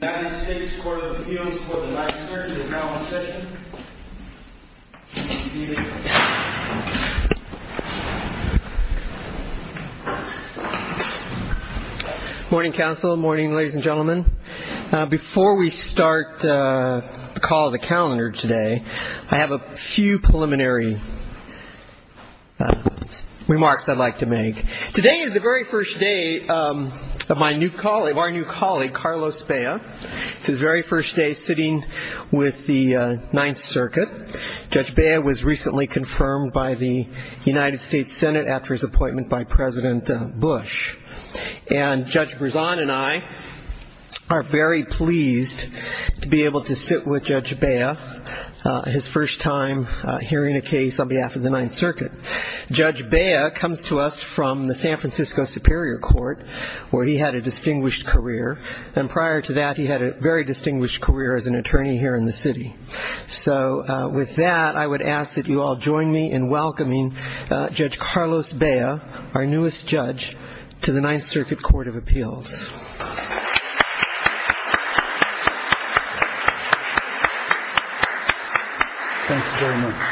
United States Court of Appeals for the Life Search and Acknowledgement Session, please be seated. Morning, counsel. Morning, ladies and gentlemen. Before we start the call of the calendar today, I have a few preliminary remarks I'd like to make. Today is the very first day of our new colleague, Carlos Bea. It's his very first day sitting with the Ninth Circuit. Judge Bea was recently confirmed by the United States Senate after his appointment by President Bush. And Judge Brisson and I are very pleased to be able to sit with Judge Bea, his first time hearing a case on behalf of the Ninth Circuit. Judge Bea comes to us from the San Francisco Superior Court, where he had a distinguished career. And prior to that, he had a very distinguished career as an attorney here in the city. So with that, I would ask that you all join me in welcoming Judge Carlos Bea, our newest judge, to the Ninth Circuit Court of Appeals. Thank you very much.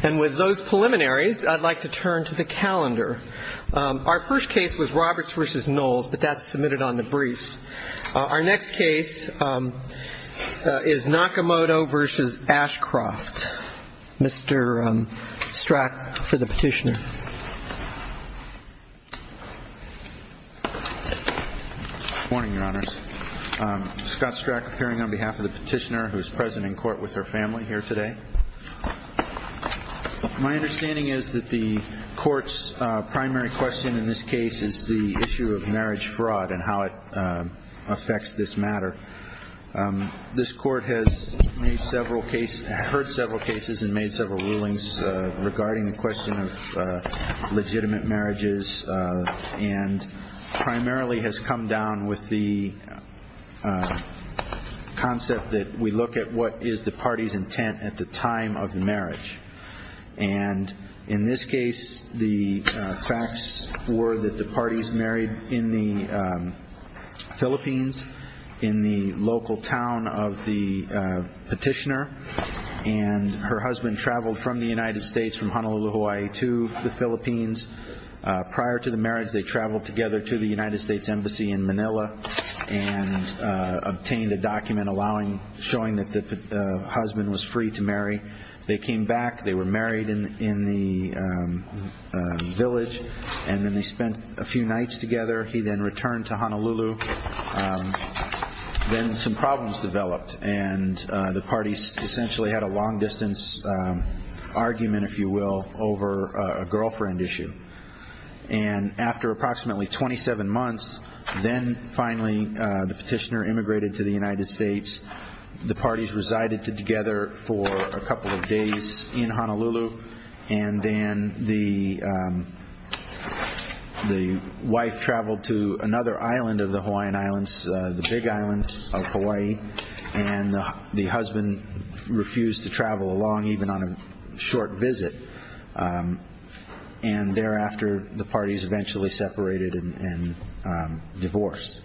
And with those preliminaries, I'd like to turn to the calendar. Our first case was Roberts v. Knowles, but that's submitted on the briefs. Our next case is Nakamoto v. Ashcroft. Mr. Strack for the petitioner. Good morning, Your Honors. Scott Strack appearing on behalf of the petitioner, who is present in court with her family here today. My understanding is that the court's primary question in this case is the issue of marriage fraud and how it affects this matter. This court has heard several cases and made several rulings regarding the question of legitimate marriages and primarily has come down with the concept that we look at what is the party's intent at the time of the marriage. And in this case, the facts were that the parties married in the Philippines, in the local town of the petitioner, and her husband traveled from the United States, from Honolulu, Hawaii, to the Philippines. Prior to the marriage, they traveled together to the United States Embassy in Manila and obtained a document showing that the husband was free to marry. They came back. They were married in the village, and then they spent a few nights together. He then returned to Honolulu. Then some problems developed, and the parties essentially had a long-distance argument, if you will, over a girlfriend issue. And after approximately 27 months, then finally the petitioner immigrated to the United States. The parties resided together for a couple of days in Honolulu, and then the wife traveled to another island of the Hawaiian Islands, the Big Island of Hawaii, and the husband refused to travel along, even on a short visit. And thereafter, the parties eventually separated and divorced.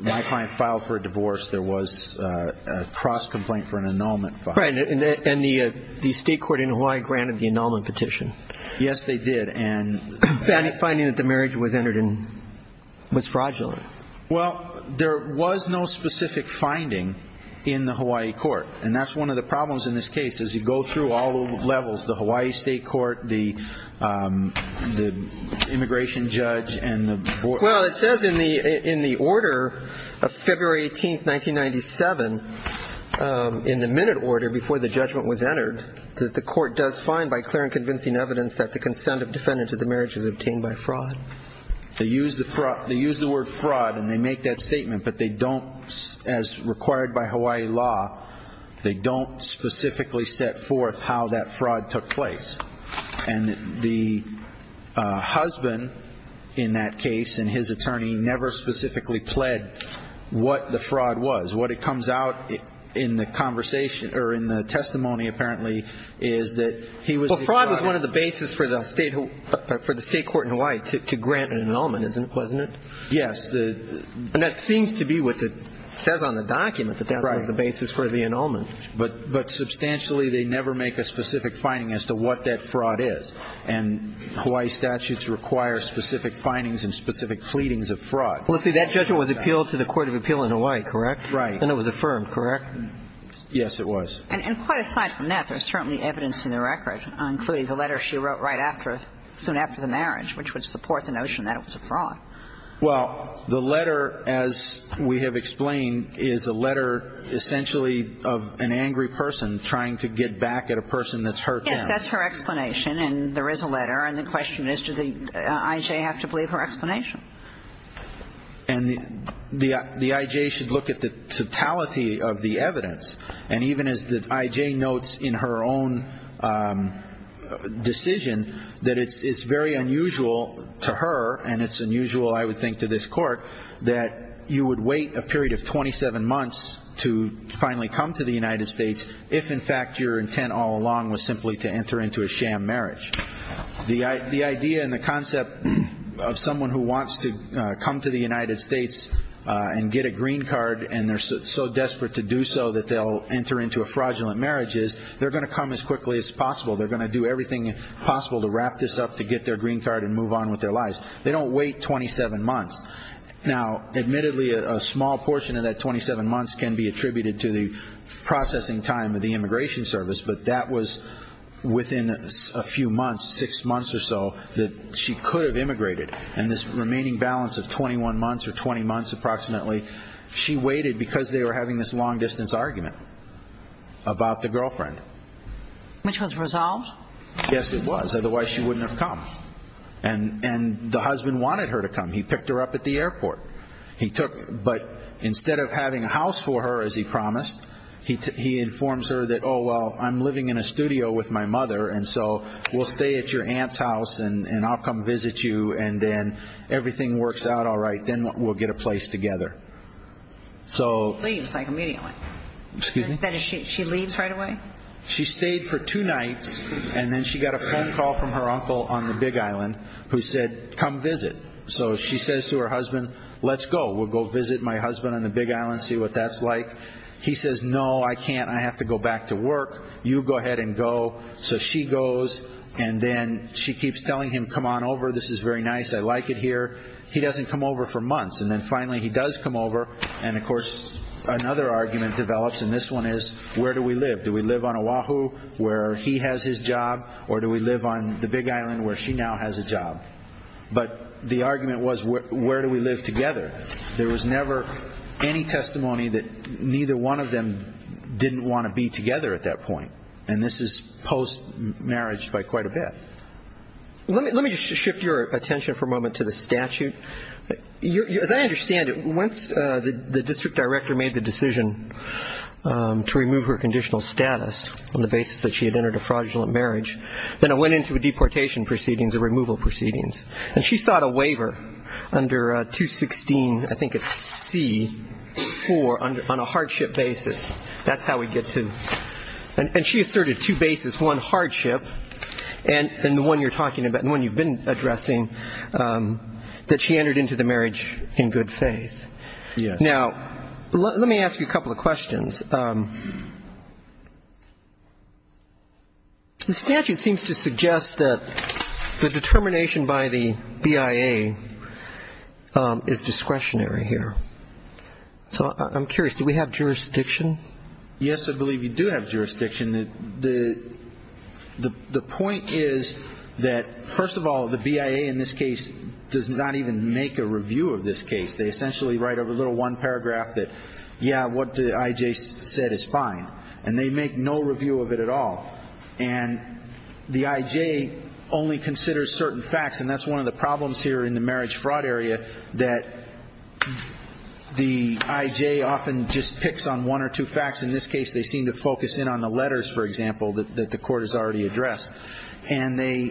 My client filed for a divorce. There was a cross-complaint for an annulment filed. Right, and the state court in Hawaii granted the annulment petition. Yes, they did. And finding that the marriage was entered in was fraudulent. Well, there was no specific finding in the Hawaii court, and that's one of the problems in this case is you go through all the levels, the Hawaii state court, the immigration judge, and the board. Well, it says in the order of February 18, 1997, in the minute order before the judgment was entered, that the court does find by clear and convincing evidence that the consent of defendant to the marriage is obtained by fraud. They use the word fraud, and they make that statement, but they don't, as required by Hawaii law, they don't specifically set forth how that fraud took place. And the husband in that case and his attorney never specifically pled what the fraud was. What it comes out in the conversation or in the testimony, apparently, is that he was the fraud. Well, fraud was one of the basis for the state court in Hawaii to grant an annulment, wasn't it? Yes. And that seems to be what it says on the document, that that was the basis for the annulment. But substantially, they never make a specific finding as to what that fraud is. And Hawaii statutes require specific findings and specific pleadings of fraud. Well, see, that judgment was appealed to the court of appeal in Hawaii, correct? Right. And it was affirmed, correct? Yes, it was. And quite aside from that, there's certainly evidence in the record, including the letter she wrote right after, Well, the letter, as we have explained, is a letter essentially of an angry person trying to get back at a person that's hurt them. Yes, that's her explanation. And there is a letter. And the question is, does the I.J. have to believe her explanation? And the I.J. should look at the totality of the evidence. And even as the I.J. notes in her own decision, that it's very unusual to her, and it's unusual, I would think, to this Court, that you would wait a period of 27 months to finally come to the United States, if, in fact, your intent all along was simply to enter into a sham marriage. The idea and the concept of someone who wants to come to the United States and get a green card, and they're so desperate to do so that they'll enter into a fraudulent marriage, is they're going to come as quickly as possible. They're going to do everything possible to wrap this up, to get their green card, and move on with their lives. They don't wait 27 months. Now, admittedly, a small portion of that 27 months can be attributed to the processing time of the immigration service, but that was within a few months, six months or so, that she could have immigrated. And this remaining balance of 21 months or 20 months approximately, she waited because they were having this long-distance argument about the girlfriend. Which was resolved? Yes, it was, otherwise she wouldn't have come. And the husband wanted her to come. He picked her up at the airport. But instead of having a house for her, as he promised, he informs her that, oh, well, I'm living in a studio with my mother, and so we'll stay at your aunt's house, and I'll come visit you, and then everything works out all right. Then we'll get a place together. She leaves, like, immediately. Excuse me? She leaves right away? She stayed for two nights, and then she got a phone call from her uncle on the Big Island who said, come visit. So she says to her husband, let's go. We'll go visit my husband on the Big Island, see what that's like. He says, no, I can't. I have to go back to work. You go ahead and go. So she goes, and then she keeps telling him, come on over. This is very nice. I like it here. He doesn't come over for months, and then finally he does come over. And, of course, another argument develops, and this one is, where do we live? Do we live on Oahu where he has his job, or do we live on the Big Island where she now has a job? But the argument was, where do we live together? There was never any testimony that neither one of them didn't want to be together at that point, and this is post-marriage by quite a bit. Let me just shift your attention for a moment to the statute. As I understand it, once the district director made the decision to remove her conditional status on the basis that she had entered a fraudulent marriage, then it went into a deportation proceedings, a removal proceedings. And she sought a waiver under 216, I think it's C, 4, on a hardship basis. That's how we get to it. And she asserted two bases, one hardship and the one you're talking about, the one you've been addressing, that she entered into the marriage in good faith. Yes. Now, let me ask you a couple of questions. The statute seems to suggest that the determination by the BIA is discretionary here. So I'm curious, do we have jurisdiction? Yes, I believe you do have jurisdiction. The point is that, first of all, the BIA in this case does not even make a review of this case. They essentially write over a little one paragraph that, yeah, what did I.J. say? What I.J. said is fine. And they make no review of it at all. And the I.J. only considers certain facts, and that's one of the problems here in the marriage fraud area, that the I.J. often just picks on one or two facts. In this case, they seem to focus in on the letters, for example, that the Court has already addressed. And they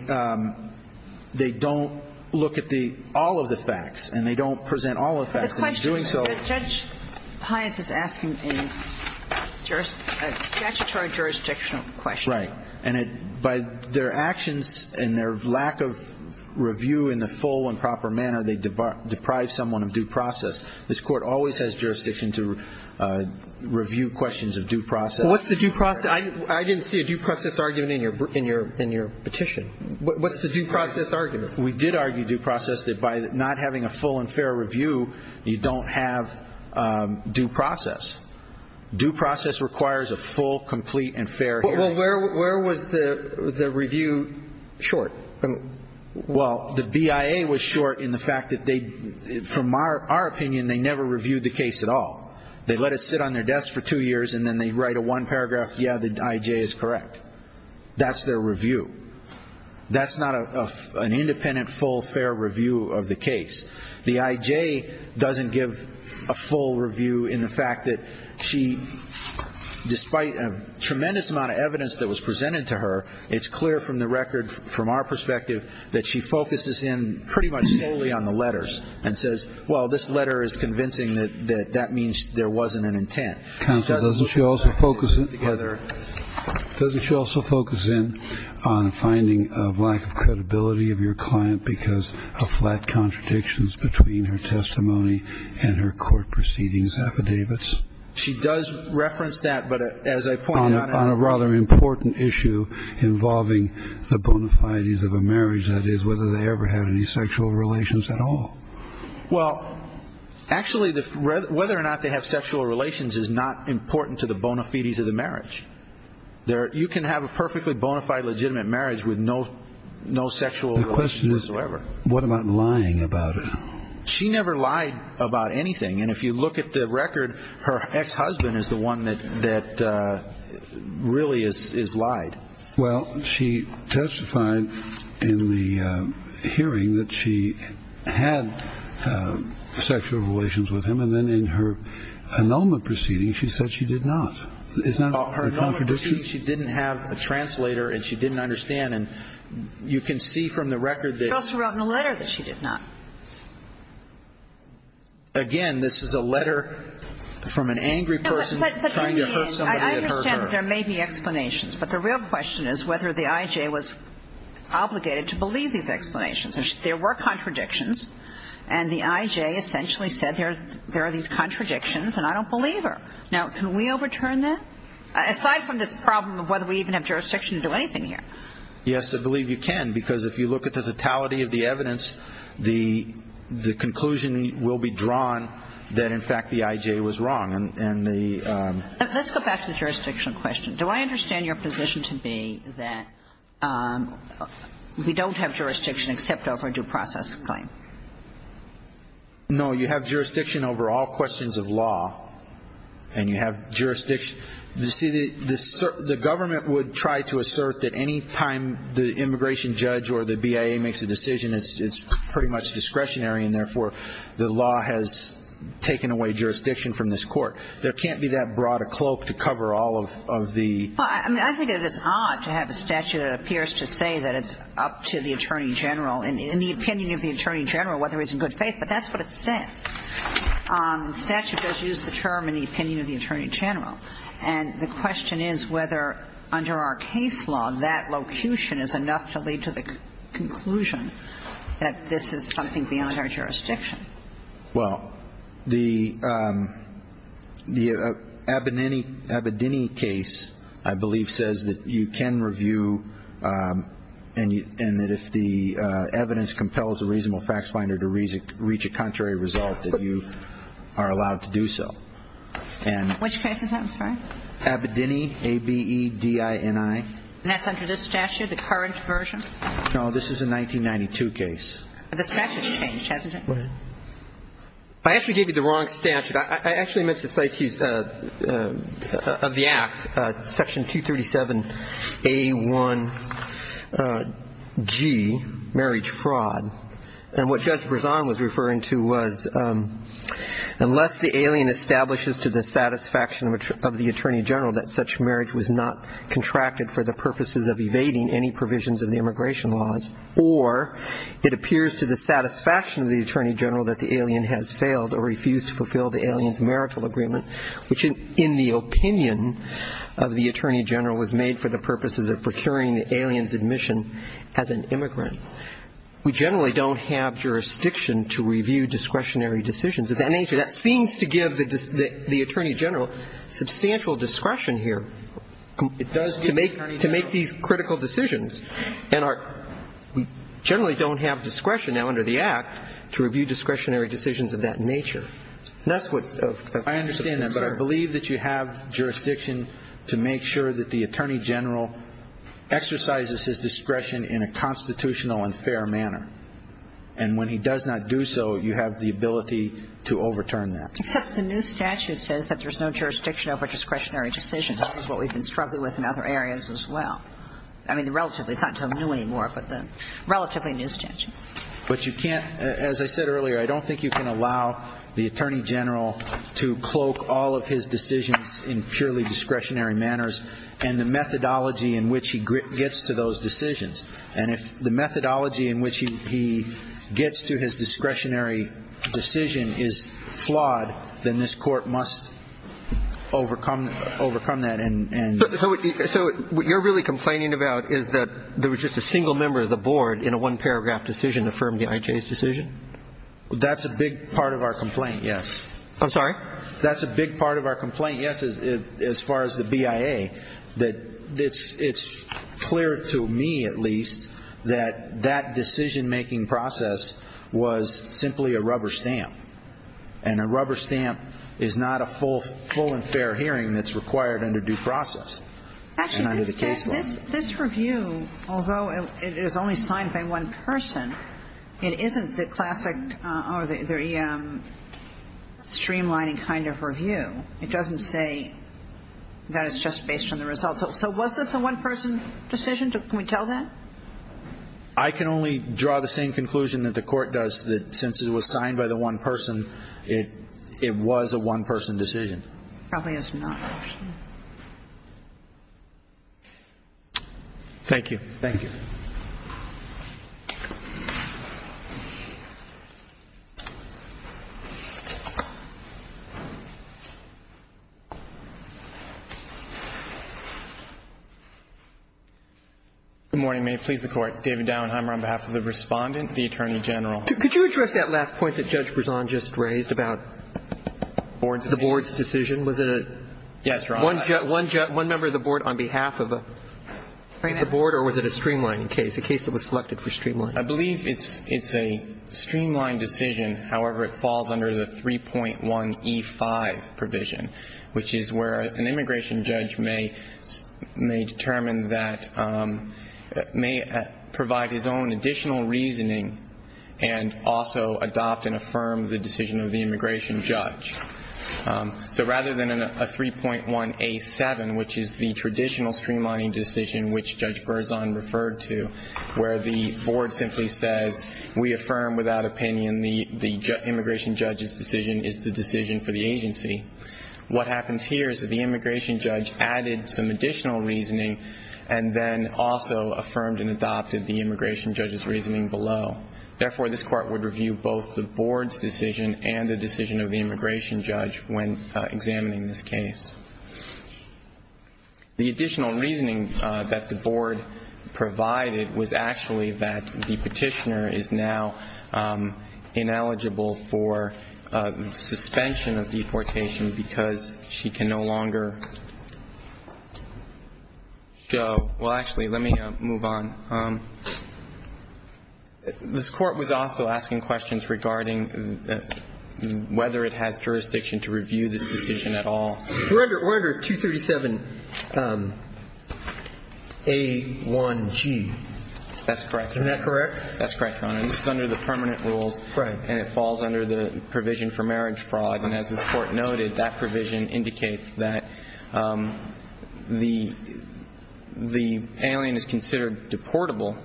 don't look at all of the facts, and they don't present all of the facts. The question is that Judge Pius is asking a statutory jurisdictional question. Right. And by their actions and their lack of review in the full and proper manner, they deprive someone of due process. This Court always has jurisdiction to review questions of due process. What's the due process? I didn't see a due process argument in your petition. What's the due process argument? We did argue due process that by not having a full and fair review, you don't have due process. Due process requires a full, complete, and fair hearing. Well, where was the review short? Well, the BIA was short in the fact that they, from our opinion, they never reviewed the case at all. They let it sit on their desk for two years, and then they write a one paragraph, yeah, the I.J. is correct. That's their review. That's not an independent, full, fair review of the case. The I.J. doesn't give a full review in the fact that she, despite a tremendous amount of evidence that was presented to her, it's clear from the record from our perspective that she focuses in pretty much solely on the letters and says, well, this letter is convincing that that means there wasn't an intent. Counsel, doesn't she also focus in? On finding a lack of credibility of your client because of flat contradictions between her testimony and her court proceedings affidavits? She does reference that, but as I pointed out, on a rather important issue involving the bona fides of a marriage, that is whether they ever had any sexual relations at all. Well, actually, whether or not they have sexual relations is not important to the bona fides of the marriage. You can have a perfectly bona fide, legitimate marriage with no sexual relations whatsoever. The question is, what about lying about it? She never lied about anything, and if you look at the record, her ex-husband is the one that really is lied. Well, she testified in the hearing that she had sexual relations with him, and then in her annulment proceeding, she said she did not. It's not about her annulment proceeding. She didn't have a translator, and she didn't understand. And you can see from the record that she did not. She also wrote in a letter that she did not. Again, this is a letter from an angry person trying to hurt somebody that hurt her. I understand that there may be explanations, but the real question is whether the I.J. was obligated to believe these explanations. There were contradictions, and the I.J. essentially said there are these contradictions, and I don't believe her. Now, can we overturn that? Aside from this problem of whether we even have jurisdiction to do anything here. Yes, I believe you can, because if you look at the totality of the evidence, the conclusion will be drawn that, in fact, the I.J. was wrong. Let's go back to the jurisdictional question. Do I understand your position to be that we don't have jurisdiction except over a due process claim? No, you have jurisdiction over all questions of law. And you have jurisdiction. You see, the government would try to assert that any time the immigration judge or the BIA makes a decision, it's pretty much discretionary, and therefore the law has taken away jurisdiction from this court. There can't be that broad a cloak to cover all of the... Well, I think it is odd to have a statute that appears to say that it's up to the Attorney General and the opinion of the Attorney General whether he's in good faith, but that's what it says. Statute does use the term in the opinion of the Attorney General. And the question is whether, under our case law, that locution is enough to lead to the conclusion that this is something beyond our jurisdiction. Well, the Abedini case, I believe, says that you can review and that if the evidence compels the reasonable facts finder to reach a contrary result, that you are allowed to do so. Which case is that? I'm sorry. Abedini, A-B-E-D-I-N-I. And that's under this statute, the current version? No, this is a 1992 case. The statute's changed, hasn't it? I actually gave you the wrong statute. I actually meant the statute of the Act, Section 237A1G, Marriage Fraud. And what Judge Brezon was referring to was unless the alien establishes to the satisfaction of the Attorney General that such marriage was not contracted for the purposes of evading any provisions of the immigration laws, or it appears to the satisfaction of the Attorney General that the alien has failed or refused to fulfill the alien's marital agreement, which in the opinion of the Attorney General was made for the purposes of procuring the alien's admission as an immigrant, we generally don't have jurisdiction to review discretionary decisions of that nature. That seems to give the Attorney General substantial discretion here to make these critical decisions. And we generally don't have discretion now under the Act to review discretionary decisions of that nature. And that's what's of concern. I understand that, but I believe that you have jurisdiction to make sure that the Attorney General exercises his discretion in a constitutional and fair manner. And when he does not do so, you have the ability to overturn that. Except the new statute says that there's no jurisdiction over discretionary decisions. This is what we've been struggling with in other areas as well. I mean, relatively. It's not until new anymore, but relatively new statute. But you can't, as I said earlier, I don't think you can allow the Attorney General to cloak all of his decisions in purely discretionary manners and the methodology in which he gets to those decisions. And if the methodology in which he gets to his discretionary decision is flawed, then this Court must overcome that. So what you're really complaining about is that there was just a single member of the Board in a one-paragraph decision to affirm the IJ's decision? That's a big part of our complaint, yes. I'm sorry? That's a big part of our complaint, yes, as far as the BIA. It's clear to me, at least, that that decision-making process was simply a rubber stamp. And a rubber stamp is not a full and fair hearing that's required under due process. Actually, this review, although it is only signed by one person, it isn't the classic or the streamlining kind of review. It doesn't say that it's just based on the results. So was this a one-person decision? Can we tell that? I can only draw the same conclusion that the Court does, that since it was signed by the one person, it was a one-person decision. Probably is not, actually. Thank you. Thank you. Good morning. May it please the Court. David Dauenheimer on behalf of the Respondent, the Attorney General. Could you address that last point that Judge Berzon just raised about the Board's decision? Was it one member of the Board on behalf of the Board, or was it a streamlining case, a case that was selected for streamlining? I believe it's a streamlined decision. However, it falls under the 3.1E5 provision, which is where an immigration judge may determine that, may provide his own additional reasoning and also adopt and affirm the decision of the immigration judge. So rather than a 3.1A7, which is the traditional streamlining decision, which Judge Berzon referred to, where the Board simply says, we affirm without opinion the immigration judge's decision is the decision for the agency. What happens here is that the immigration judge added some additional reasoning and then also affirmed and adopted the immigration judge's reasoning below. Therefore, this Court would review both the Board's decision and the decision of the immigration judge when examining this case. The additional reasoning that the Board provided was actually that the petitioner is now ineligible for suspension of deportation because she can no longer go. Well, actually, let me move on. This Court was also asking questions regarding whether it has jurisdiction to review this decision at all. We're under 237A1G. That's correct. Isn't that correct? That's correct, Your Honor. This is under the permanent rules. Right. And it falls under the provision for marriage fraud. And as this Court noted, that provision indicates that the alien is considered deportable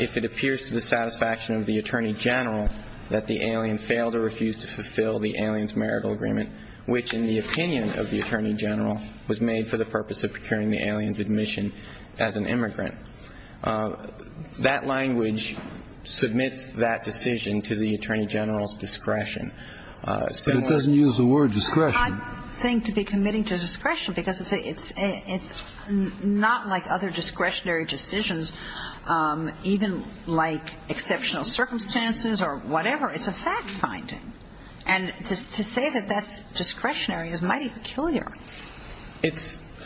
if it appears to the satisfaction of the Attorney General that the alien failed or refused to fulfill the alien's marital agreement, which in the opinion of the Attorney General was made for the purpose of procuring the alien's admission as an immigrant. That language submits that decision to the Attorney General's discretion. But it doesn't use the word discretion. I don't think to be committing to discretion because it's not like other discretionary decisions, even like exceptional circumstances or whatever. It's a fact-finding. And to say that that's discretionary is mighty peculiar.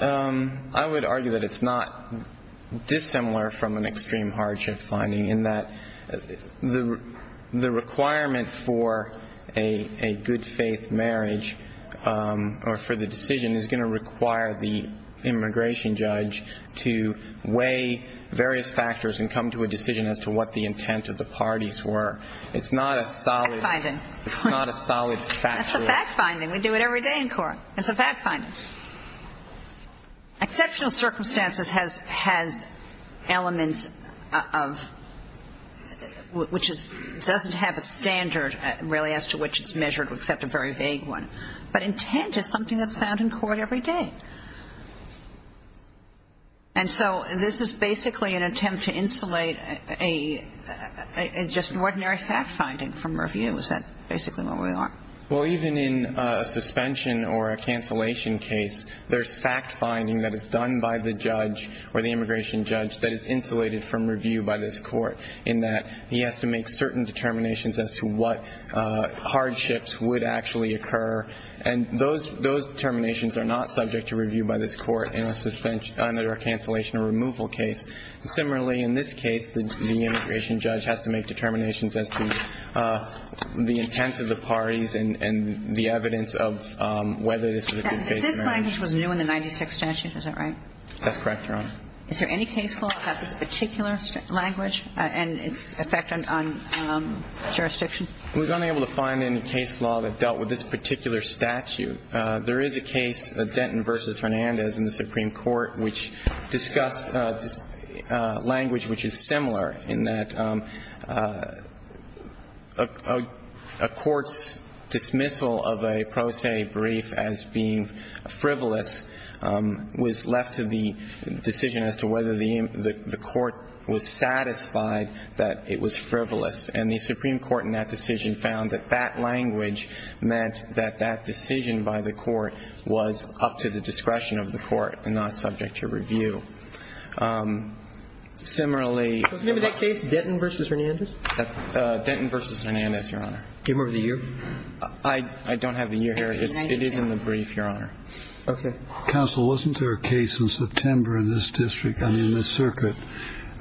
I would argue that it's not dissimilar from an extreme hardship finding in that the requirement for a good-faith marriage or for the decision is going to require the immigration judge to weigh various factors and come to a decision as to what the intent of the parties were. It's not a solid fact-finding. It's not a solid fact-finding. That's a fact-finding. We do it every day in court. It's a fact-finding. Exceptional circumstances has elements of which doesn't have a standard really as to which it's measured except a very vague one. But intent is something that's found in court every day. And so this is basically an attempt to insulate just ordinary fact-finding from review. Is that basically where we are? Well, even in a suspension or a cancellation case, there's fact-finding that is done by the judge or the immigration judge that is insulated from review by this court in that he has to make certain determinations as to what hardships would actually occur. And those determinations are not subject to review by this court in a suspension or cancellation or removal case. Similarly, in this case, the immigration judge has to make determinations as to the intent of the parties and the evidence of whether this was a good-faith marriage. This language was new in the 96th statute. Is that right? That's correct, Your Honor. Is there any case law that has this particular language and its effect on jurisdiction? I was unable to find any case law that dealt with this particular statute. There is a case, Denton v. Hernandez, in the Supreme Court, which discussed language which is similar in that a court's dismissal of a pro se brief as being frivolous was left to the decision as to whether the court was satisfied that it was frivolous. And the Supreme Court in that decision found that that language meant that that decision by the court was up to the discretion of the court and not subject to review. Similarly ---- Do you remember that case, Denton v. Hernandez? Denton v. Hernandez, Your Honor. Do you remember the year? It is in the brief, Your Honor. Okay. Counsel, wasn't there a case in September in this district, I mean in this circuit,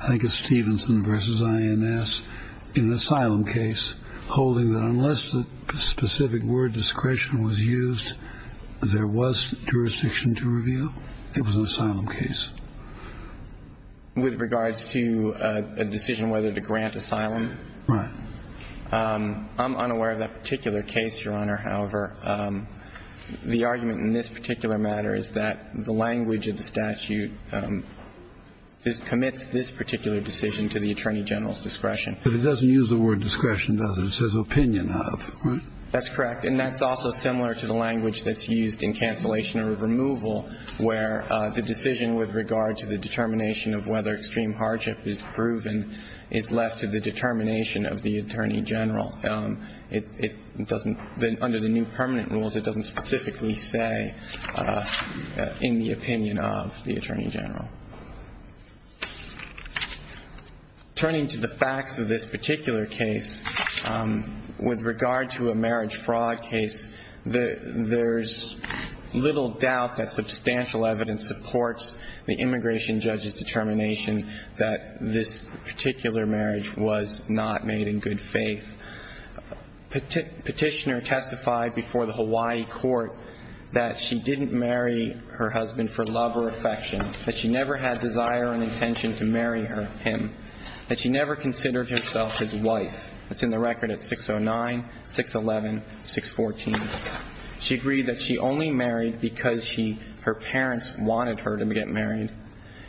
I guess Stevenson v. INS, an asylum case holding that unless a specific word discretion was used, there was jurisdiction to review? It was an asylum case. With regards to a decision whether to grant asylum? Right. I'm unaware of that particular case, Your Honor, however. The argument in this particular matter is that the language of the statute commits this particular decision to the attorney general's discretion. But it doesn't use the word discretion, does it? It says opinion of, right? That's correct. And that's also similar to the language that's used in cancellation or removal, where the decision with regard to the determination of whether extreme hardship is proven is left to the determination of the attorney general. It doesn't, under the new permanent rules, it doesn't specifically say in the opinion of the attorney general. Turning to the facts of this particular case, with regard to a marriage fraud case, there's little doubt that substantial evidence supports the immigration judge's determination that this particular marriage was not made in good faith. Petitioner testified before the Hawaii court that she didn't marry her husband for love or affection, that she never had desire or intention to marry him, that she never considered herself his wife. That's in the record at 609, 611, 614. She agreed that she only married because her parents wanted her to get married,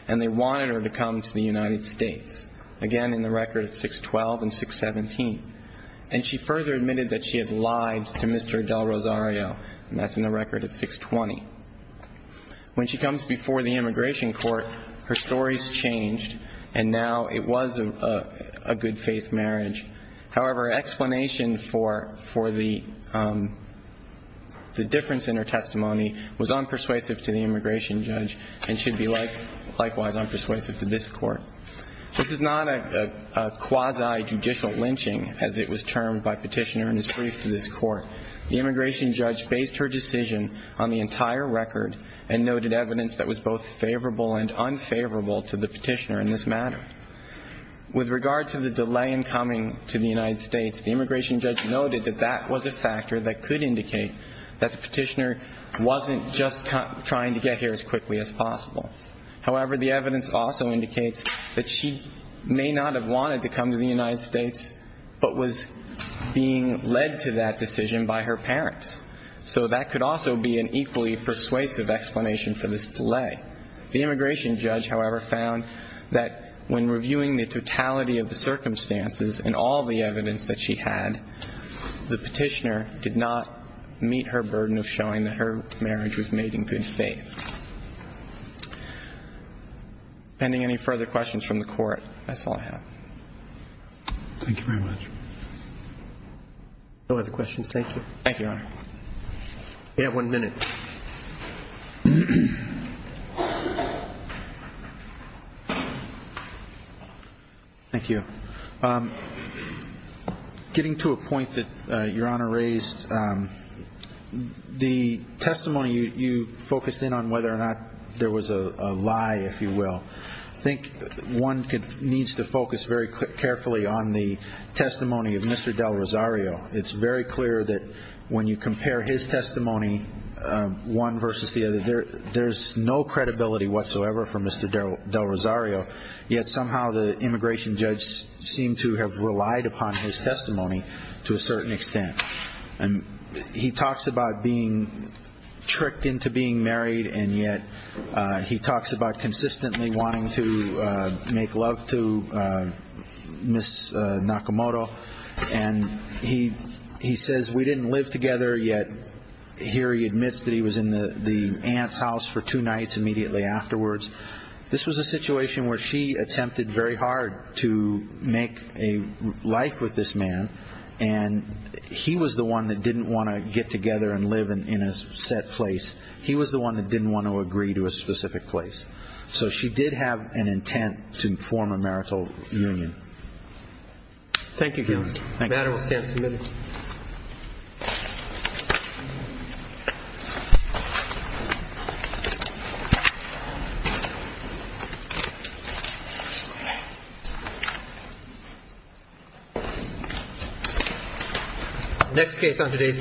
and they wanted her to come to the United States. Again, in the record at 612 and 617. And she further admitted that she had lied to Mr. Adel Rosario, and that's in the record at 620. When she comes before the immigration court, her story's changed, and now it was a good faith marriage. However, explanation for the difference in her testimony was unpersuasive to the immigration judge and should be likewise unpersuasive to this court. This is not a quasi-judicial lynching, as it was termed by Petitioner in his brief to this court. The immigration judge based her decision on the entire record and noted evidence that was both favorable and unfavorable to the petitioner in this matter. With regard to the delay in coming to the United States, the immigration judge noted that that was a factor that could indicate that the petitioner wasn't just trying to get here as quickly as possible. However, the evidence also indicates that she may not have wanted to come to the United States but was being led to that decision by her parents. So that could also be an equally persuasive explanation for this delay. The immigration judge, however, found that when reviewing the totality of the circumstances and all the evidence that she had, the petitioner did not meet her burden of showing that her marriage was made in good faith. Pending any further questions from the court, that's all I have. Thank you very much. No other questions. Thank you. Thank you, Your Honor. We have one minute. Thank you. Getting to a point that Your Honor raised, the testimony you focused in on whether or not there was a lie, if you will, I think one needs to focus very carefully on the testimony of Mr. Del Rosario. It's very clear that when you compare his testimony, one versus the other, there's no credibility whatsoever for Mr. Del Rosario, yet somehow the immigration judge seemed to have relied upon his testimony to a certain extent. And he talks about being tricked into being married, and yet he talks about consistently wanting to make love to Ms. Nakamoto. And he says, we didn't live together, yet here he admits that he was in the aunt's house for two nights immediately afterwards. This was a situation where she attempted very hard to make a life with this man, and he was the one that didn't want to get together and live in a set place. He was the one that didn't want to agree to a specific place. So she did have an intent to form a marital union. Thank you, counsel. The matter will stand submitted.